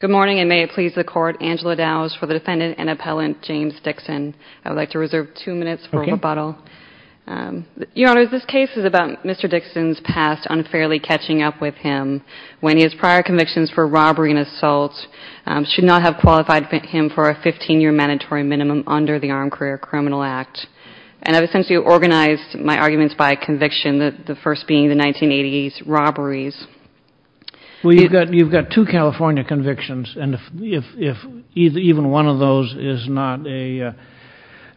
Your Honor, this case is about Mr. Dixon's past unfairly catching up with him when his prior convictions for robbery and assault should not have qualified him for a 15-year mandatory minimum under the Armed Career Criminal Act, and I've essentially organized my arguments by conviction, the first being the 1980s robberies. Well, you've got two California convictions, and if even one of those is not a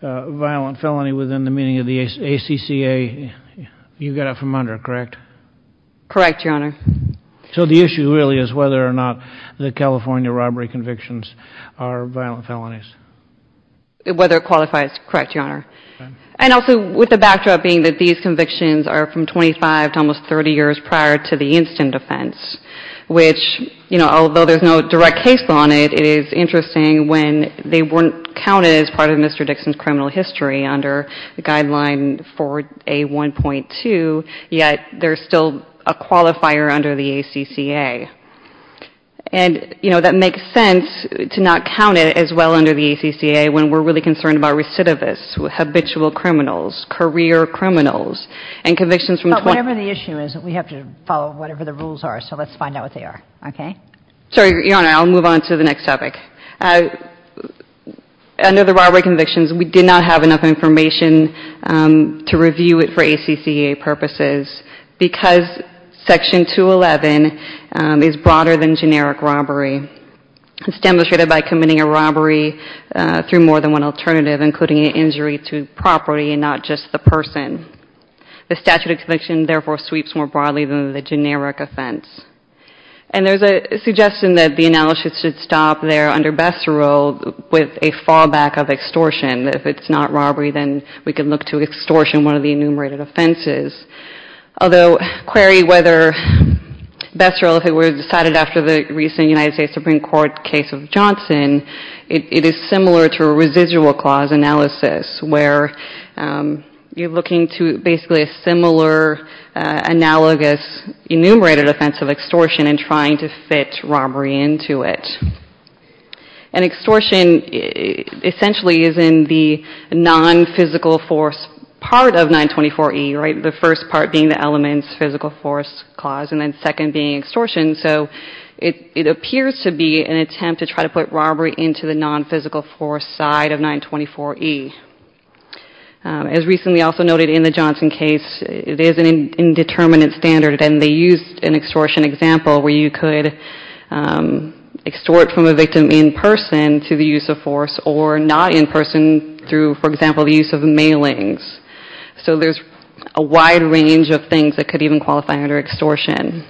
violent felony within the meaning of the ACCA, you've got it from under it, correct? Correct, Your Honor. So the issue really is whether or not the California robbery convictions are violent felonies. Whether it qualifies, correct, Your Honor. And also with the backdrop being that these convictions are from 25 to almost 30 years prior to the instant offense, which, you know, although there's no direct case on it, it is interesting when they weren't counted as part of Mr. Dixon's criminal history under the guideline for A1.2, yet there's still a qualifier under the ACCA. And, you know, that makes sense to not count it as well under the ACCA when we're really concerned about recidivists, habitual criminals, career criminals, and convictions from 20… But whatever the issue is, we have to follow whatever the rules are, so let's find out what they are, okay? Sorry, Your Honor, I'll move on to the next topic. Under the robbery convictions, we did not have enough information to review it for ACCA purposes because Section 211 is broader than generic robbery. It's demonstrated by committing a robbery through more than one alternative, including an injury to property and not just the person. The statute of conviction, therefore, sweeps more broadly than the generic offense. And there's a suggestion that the analysis should stop there under Besserill with a fallback of extortion. If it's not robbery, then we can look to extortion, one of the enumerated offenses. Although query whether Besserill, if it were decided after the recent United States Supreme Court case of Johnson, it is similar to a residual clause analysis, where you're looking to basically a similar analogous enumerated offense of extortion and trying to fit robbery into it. And extortion essentially is in the non-physical force part of 924E, right? The first part being the elements, physical force clause, and then second being extortion. So it appears to be an attempt to try to put robbery into the non-physical force side of 924E. As recently also noted in the Johnson case, there's an indeterminate standard and they used an extortion example where you could extort from a victim in person to the use of force or not in person through, for example, the use of mailings. So there's a wide range of things that could even qualify under extortion.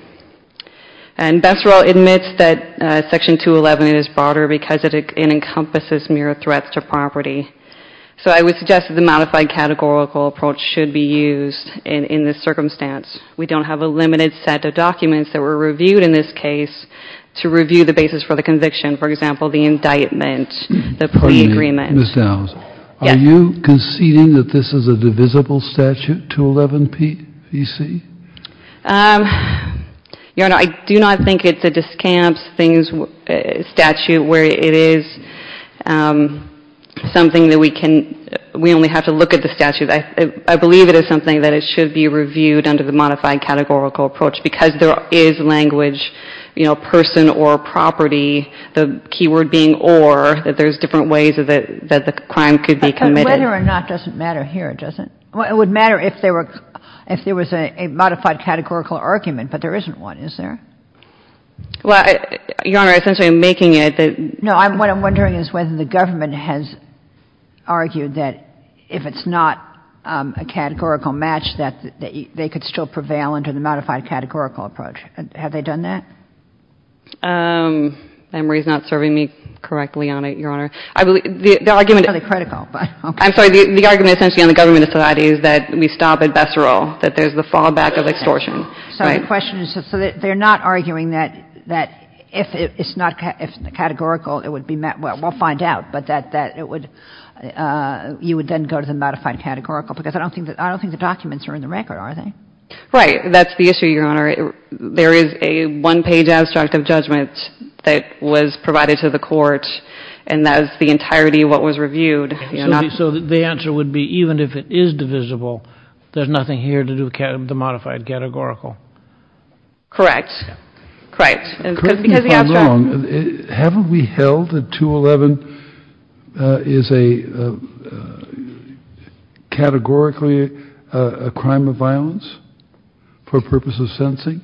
And Besserill admits that Section 211 is broader because it encompasses mere threats to property. So I would suggest that the modified categorical approach should be used in this circumstance. We don't have a limited set of documents that were reviewed in this case to review the basis for the conviction. For example, the indictment, the plea agreement. Mr. Owens, are you conceding that this is a divisible statute, 211P-PC? Your Honor, I do not think it's a discamps statute where it is something that we can — we only have to look at the statute. I believe it is something that it should be reviewed under the modified categorical approach because there is language, you know, person or property, the keyword being or, that there's different ways that the crime could be committed. Well, whether or not doesn't matter here, does it? It would matter if there were — if there was a modified categorical argument, but there isn't one, is there? Well, Your Honor, essentially I'm making it that — No, what I'm wondering is whether the government has argued that if it's not a categorical match, that they could still prevail under the modified categorical approach. Have they done that? I believe — the argument — It's not really critical, but okay. I'm sorry. The argument essentially on the government's side is that we stop at Bessarol, that there's the fallback of extortion. So the question is, so they're not arguing that if it's not categorical, it would be — well, we'll find out, but that it would — you would then go to the modified categorical because I don't think the documents are in the record, are they? Right. That's the issue, Your Honor. There is a one-page abstract of judgment that was provided to the court, and that is the entirety of what was reviewed. So the answer would be even if it is divisible, there's nothing here to do with the modified categorical? Correct. Correct. Correct me if I'm wrong. Haven't we held that 211 is a — categorically a crime of violence for purposes of sentencing?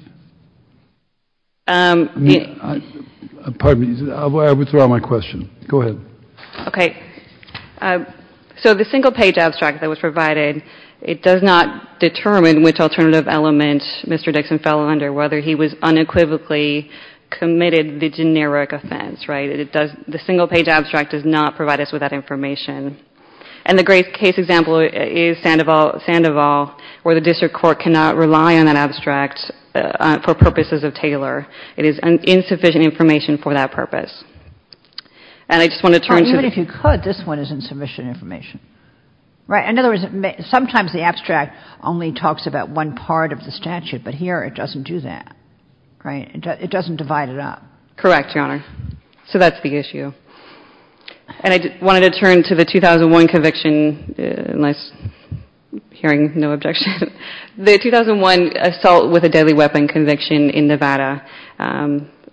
Pardon me. I withdraw my question. Go ahead. Okay. So the single-page abstract that was provided, it does not determine which alternative element Mr. Dixon fell under, whether he was unequivocally committed the generic offense, right? It does — the single-page abstract does not provide us with that information. And the great case example is Sandoval, where the district court cannot rely on that abstract for purposes of Taylor. It is insufficient information for that purpose. And I just want to turn to the — This one is insufficient information. Right? In other words, sometimes the abstract only talks about one part of the statute, but here it doesn't do that. Right? It doesn't divide it up. Correct, Your Honor. So that's the issue. And I wanted to turn to the 2001 conviction, unless hearing no objection. The 2001 assault with a deadly weapon conviction in Nevada.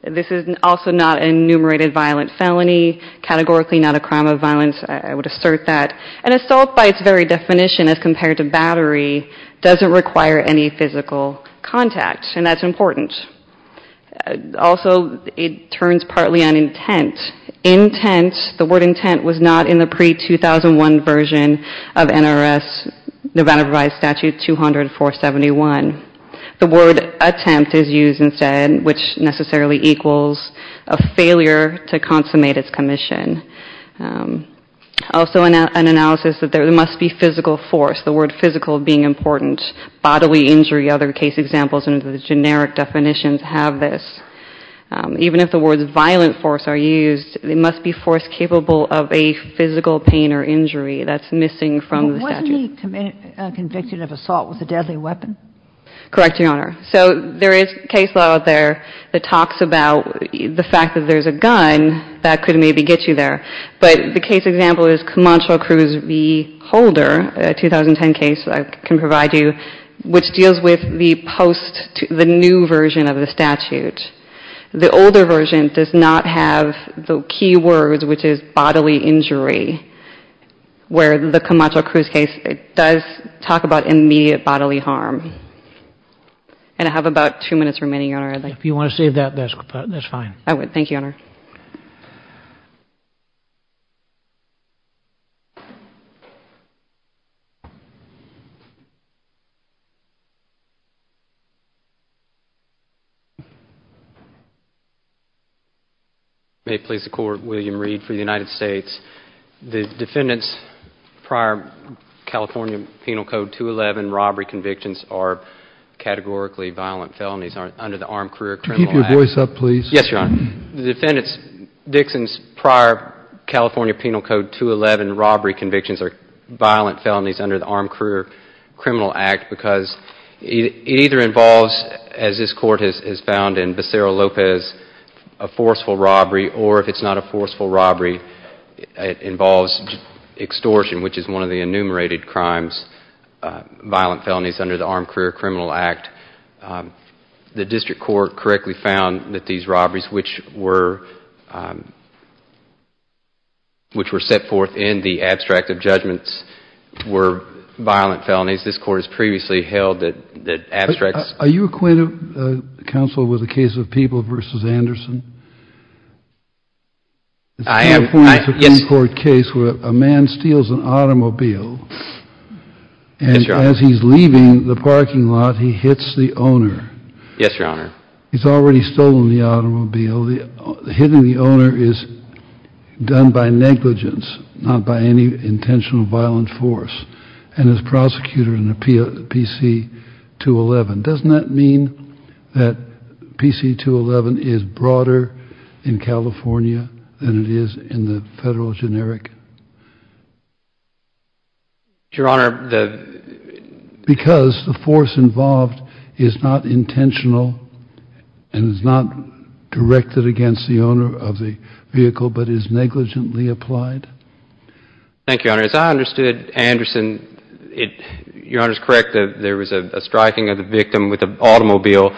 This is also not an enumerated violent felony, categorically not a crime of violence. I would assert that. An assault by its very definition as compared to battery doesn't require any physical contact, and that's important. Also, it turns partly on intent. Intent — the word intent was not in the pre-2001 version of NRS Nevada Provided Statute 20471. The word attempt is used instead, which necessarily equals a failure to consummate its commission. Also, an analysis that there must be physical force, the word physical being important. Bodily injury, other case examples in the generic definitions have this. Even if the words violent force are used, it must be force capable of a physical pain or injury. That's missing from the statute. Is there any conviction of assault with a deadly weapon? Correct, Your Honor. So there is case law out there that talks about the fact that there's a gun that could maybe get you there. But the case example is Camacho Cruz v. Holder, a 2010 case I can provide you, which deals with the post — the new version of the statute. The older version does not have the key words, which is bodily injury, where the Camacho Cruz case does talk about immediate bodily harm. And I have about two minutes remaining, Your Honor. If you want to save that, that's fine. May it please the Court, William Reed for the United States. The defendant's prior California Penal Code 211 robbery convictions are categorically violent felonies under the Armed Career Criminal Act. Keep your voice up, please. Yes, Your Honor. The defendant's — Dixon's prior California Penal Code 211 robbery convictions are violent felonies under the Armed Career Criminal Act because it either involves, as this Court has found in Becerra-Lopez, a forceful robbery, or if it's not a forceful robbery, it involves extortion, which is one of the enumerated crimes, violent felonies under the Armed Career Criminal Act. The district court correctly found that these robberies, which were set forth in the abstract of judgments, were violent felonies. This Court has previously held that abstracts — Are you acquainted, counsel, with the case of Peeble v. Anderson? I am. It's a California Supreme Court case where a man steals an automobile, and as he's leaving the parking lot, he hits the owner. Yes, Your Honor. He's already stolen the automobile. Hitting the owner is done by negligence, not by any intentional violent force. And as prosecutor in the PC-211, doesn't that mean that PC-211 is broader in California than it is in the federal generic? Your Honor, the — Because the force involved is not intentional and is not directed against the owner of the vehicle but is negligently applied? Thank you, Your Honor. As I understood, Anderson — Your Honor is correct. There was a striking of the victim with an automobile.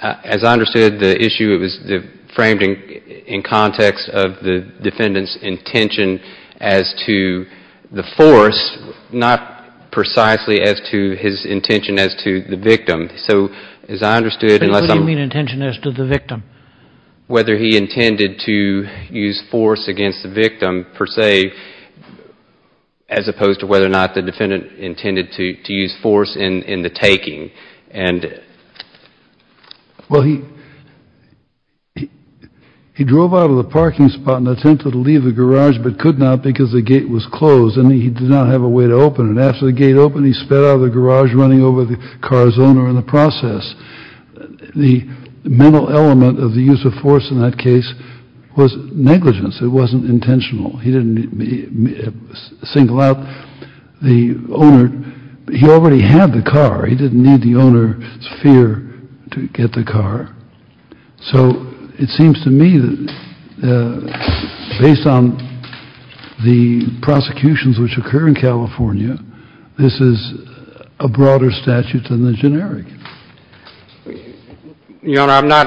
As I understood the issue, it was framed in context of the defendant's intention as to the force, not precisely as to his intention as to the victim. So as I understood — What do you mean, intention as to the victim? Whether he intended to use force against the victim, per se, as opposed to whether or not the defendant intended to use force in the taking. Well, he drove out of the parking spot and attempted to leave the garage but could not because the gate was closed, and he did not have a way to open it. After the gate opened, he sped out of the garage, running over the car's owner in the process. The mental element of the use of force in that case was negligence. It wasn't intentional. He didn't single out the owner. He already had the car. He didn't need the owner's fear to get the car. So it seems to me that based on the prosecutions which occur in California, this is a broader statute than the generic. Your Honor, I'm not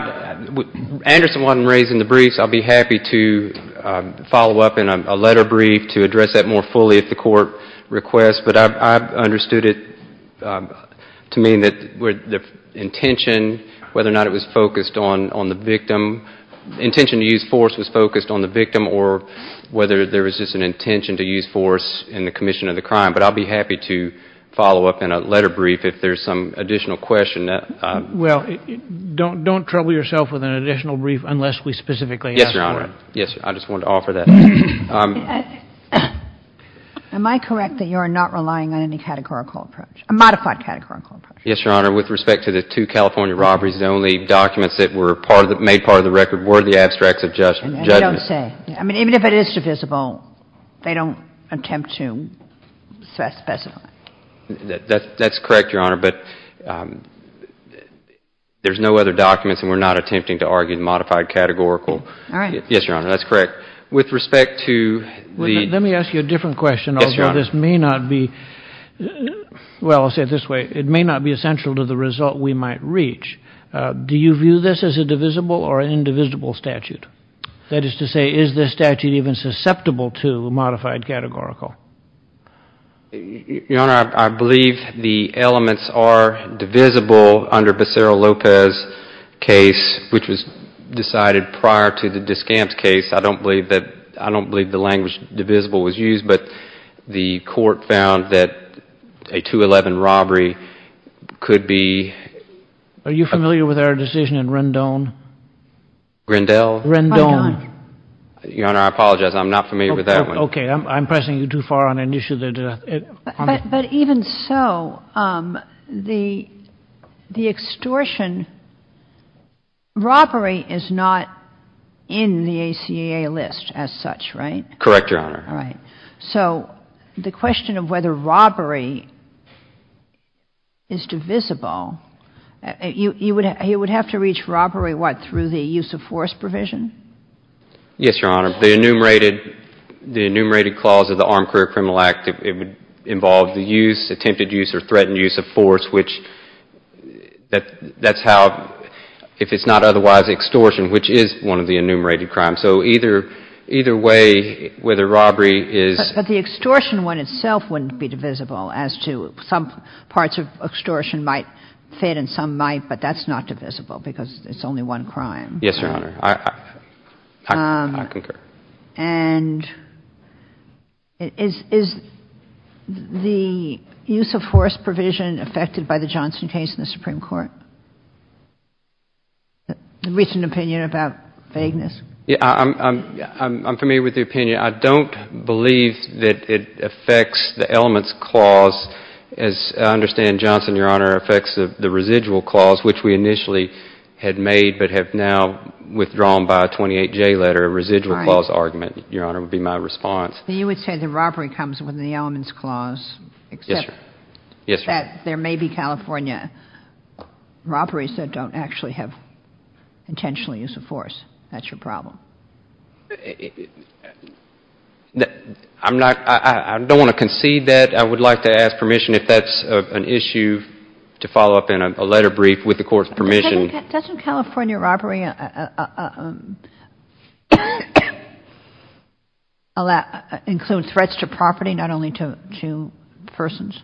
— Anderson wasn't raised in the briefs. I'll be happy to follow up in a letter brief to address that more fully if the court requests. But I've understood it to mean that the intention, whether or not it was focused on the victim, the intention to use force was focused on the victim or whether there was just an intention to use force in the commission of the crime. But I'll be happy to follow up in a letter brief if there's some additional question. Well, don't trouble yourself with an additional brief unless we specifically ask for it. Yes, Your Honor. Yes, I just wanted to offer that. Am I correct that you are not relying on any categorical approach, a modified categorical approach? Yes, Your Honor. With respect to the two California robberies, the only documents that were made part of the record were the abstracts of judgment. I don't say. I mean, even if it is divisible, they don't attempt to specify. That's correct, Your Honor. But there's no other documents, and we're not attempting to argue the modified categorical. All right. Yes, Your Honor. That's correct. With respect to the... Let me ask you a different question. Yes, Your Honor. Although this may not be... well, I'll say it this way. It may not be essential to the result we might reach. Do you view this as a divisible or an indivisible statute? That is to say, is this statute even susceptible to a modified categorical? Your Honor, I believe the elements are divisible under Becerra-Lopez case, which was decided prior to the Discamps case. I don't believe that... I don't believe the language divisible was used, but the court found that a 211 robbery could be... Are you familiar with our decision in Rendon? Rendell? Rendon. Your Honor, I apologize. I'm not familiar with that one. Okay. I'm pressing you too far on an issue that... But even so, the extortion, robbery is not in the ACA list as such, right? Correct, Your Honor. All right. So the question of whether robbery is divisible, you would have to reach robbery, what, through the use of force provision? Yes, Your Honor. The enumerated clause of the Armed Career Criminal Act, it would involve the use, attempted use or threatened use of force, which that's how, if it's not otherwise extortion, which is one of the enumerated crimes. So either way, whether robbery is... But the extortion one itself wouldn't be divisible as to some parts of extortion might fit and some might, but that's not divisible because it's only one crime. Yes, Your Honor. I concur. And is the use of force provision affected by the Johnson case in the Supreme Court, the recent opinion about vagueness? I'm familiar with the opinion. I don't believe that it affects the elements clause, as I understand, Johnson, Your Honor, which we initially had made but have now withdrawn by a 28J letter, a residual clause argument, Your Honor, would be my response. You would say the robbery comes with the elements clause. Yes, Your Honor. Except that there may be California robberies that don't actually have intentional use of force. That's your problem. I don't want to concede that. I would like to ask permission if that's an issue to follow up in a letter brief with the Court's permission. Doesn't California robbery include threats to property, not only to persons?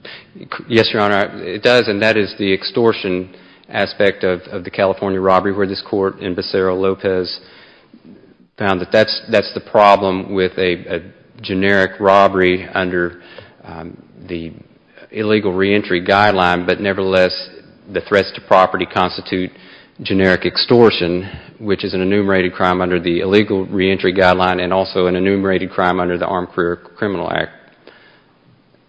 Yes, Your Honor, it does. And that is the extortion aspect of the California robbery where this Court, in Becerra-Lopez, found that that's the problem with a generic robbery under the illegal reentry guideline. But nevertheless, the threats to property constitute generic extortion, which is an enumerated crime under the illegal reentry guideline and also an enumerated crime under the Armed Career Criminal Act.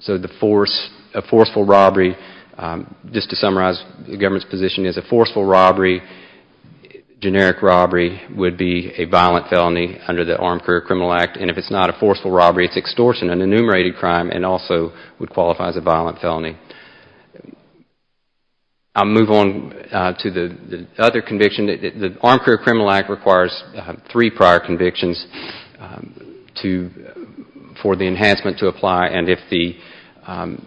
So a forceful robbery, just to summarize the government's position, is a forceful robbery, generic robbery would be a violent felony under the Armed Career Criminal Act. And if it's not a forceful robbery, it's extortion, an enumerated crime, and also would qualify as a violent felony. I'll move on to the other conviction. The Armed Career Criminal Act requires three prior convictions for the enhancement to apply. So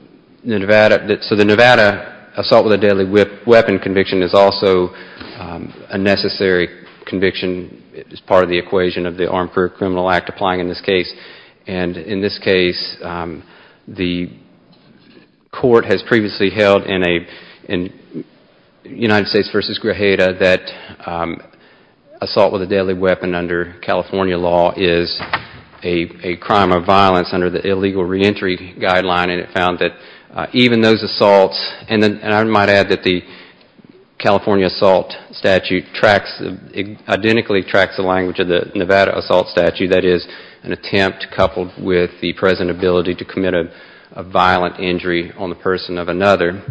the Nevada assault with a deadly weapon conviction is also a necessary conviction as part of the equation of the Armed Career Criminal Act applying in this case. And in this case, the Court has previously held in United States v. Grajeda that assault with a deadly weapon under California law is a crime of violence under the illegal reentry guideline. And it found that even those assaults, and I might add that the California assault statute tracks, identically tracks the language of the Nevada assault statute, that is an attempt coupled with the present ability to commit a violent injury on the person of another.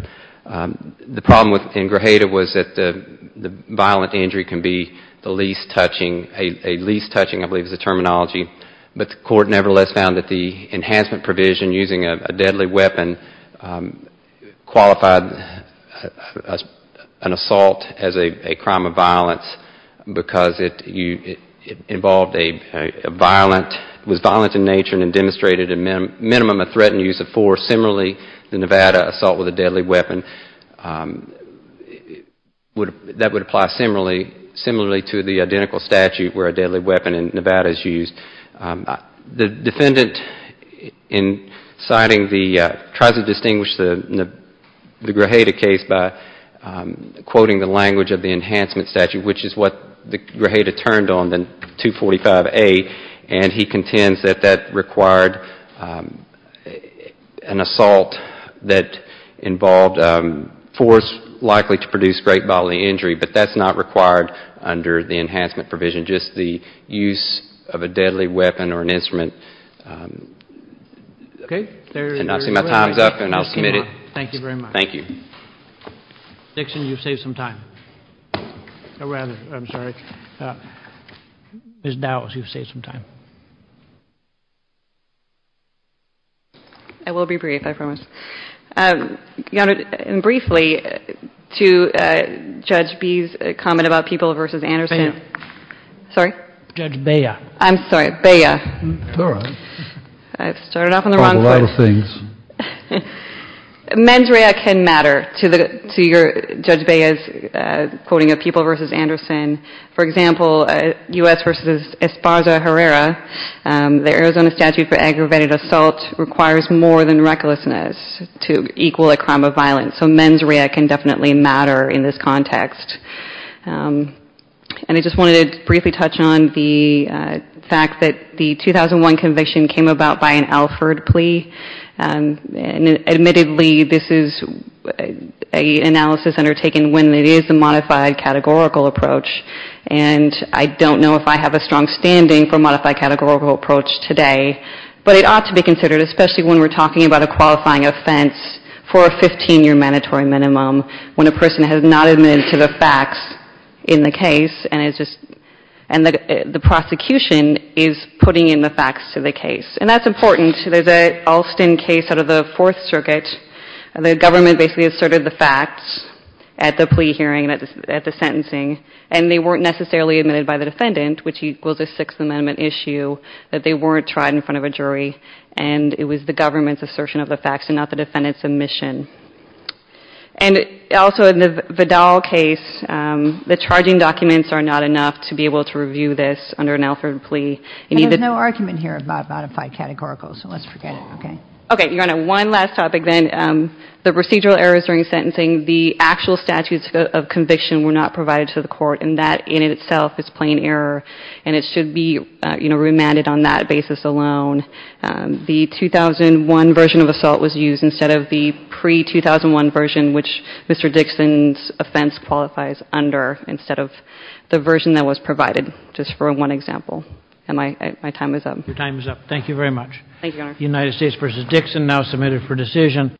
The problem in Grajeda was that the violent injury can be the least touching, a least touching I believe is the terminology, but the Court nevertheless found that the enhancement provision using a deadly weapon qualified an assault as a crime of violence because it involved a violent, was violent in nature and demonstrated a minimum of threat and use of force. Similarly, the Nevada assault with a deadly weapon, that would apply similarly to the identical statute where a deadly weapon in Nevada is used. The defendant in citing the, tries to distinguish the Grajeda case by quoting the language of the enhancement statute, which is what Grajeda turned on in 245A, and he contends that that required an assault that involved force likely to produce great bodily injury, but that's not required under the enhancement provision. Just the use of a deadly weapon or an instrument, and I'll see my time's up and I'll submit it. Thank you very much. Thank you. Mr. Dixon, you've saved some time. Or rather, I'm sorry, Ms. Dowles, you've saved some time. I will be brief, I promise. And briefly, to Judge B's comment about People v. Anderson. Bea. Sorry? Judge Bea. I'm sorry, Bea. All right. I've started off on the wrong foot. Called a lot of things. Mendrea can matter to Judge Bea's quoting of People v. Anderson. For example, U.S. v. Esparza Herrera, the Arizona statute for aggravated assault requires more than recklessness. To equal a crime of violence. So Mendrea can definitely matter in this context. And I just wanted to briefly touch on the fact that the 2001 conviction came about by an Alford plea. Admittedly, this is an analysis undertaken when it is a modified categorical approach, and I don't know if I have a strong standing for modified categorical approach today, but it ought to be considered, especially when we're talking about a qualifying offense for a 15-year mandatory minimum, when a person has not admitted to the facts in the case, and the prosecution is putting in the facts to the case. And that's important. There's an Alston case out of the Fourth Circuit. The government basically asserted the facts at the plea hearing and at the sentencing, and they weren't necessarily admitted by the defendant, which equals a Sixth Amendment issue, that they weren't tried in front of a jury. And it was the government's assertion of the facts and not the defendant's admission. And also in the Vidal case, the charging documents are not enough to be able to review this under an Alford plea. And there's no argument here about modified categorical, so let's forget it, okay? Okay, you're on to one last topic then. The procedural errors during sentencing, the actual statutes of conviction were not provided to the court, and that in itself is plain error, and it should be remanded on that basis alone. The 2001 version of assault was used instead of the pre-2001 version, which Mr. Dixon's offense qualifies under instead of the version that was provided, just for one example. And my time is up. Your time is up. Thank you very much. Thank you, Your Honor. United States v. Dixon now submitted for decision.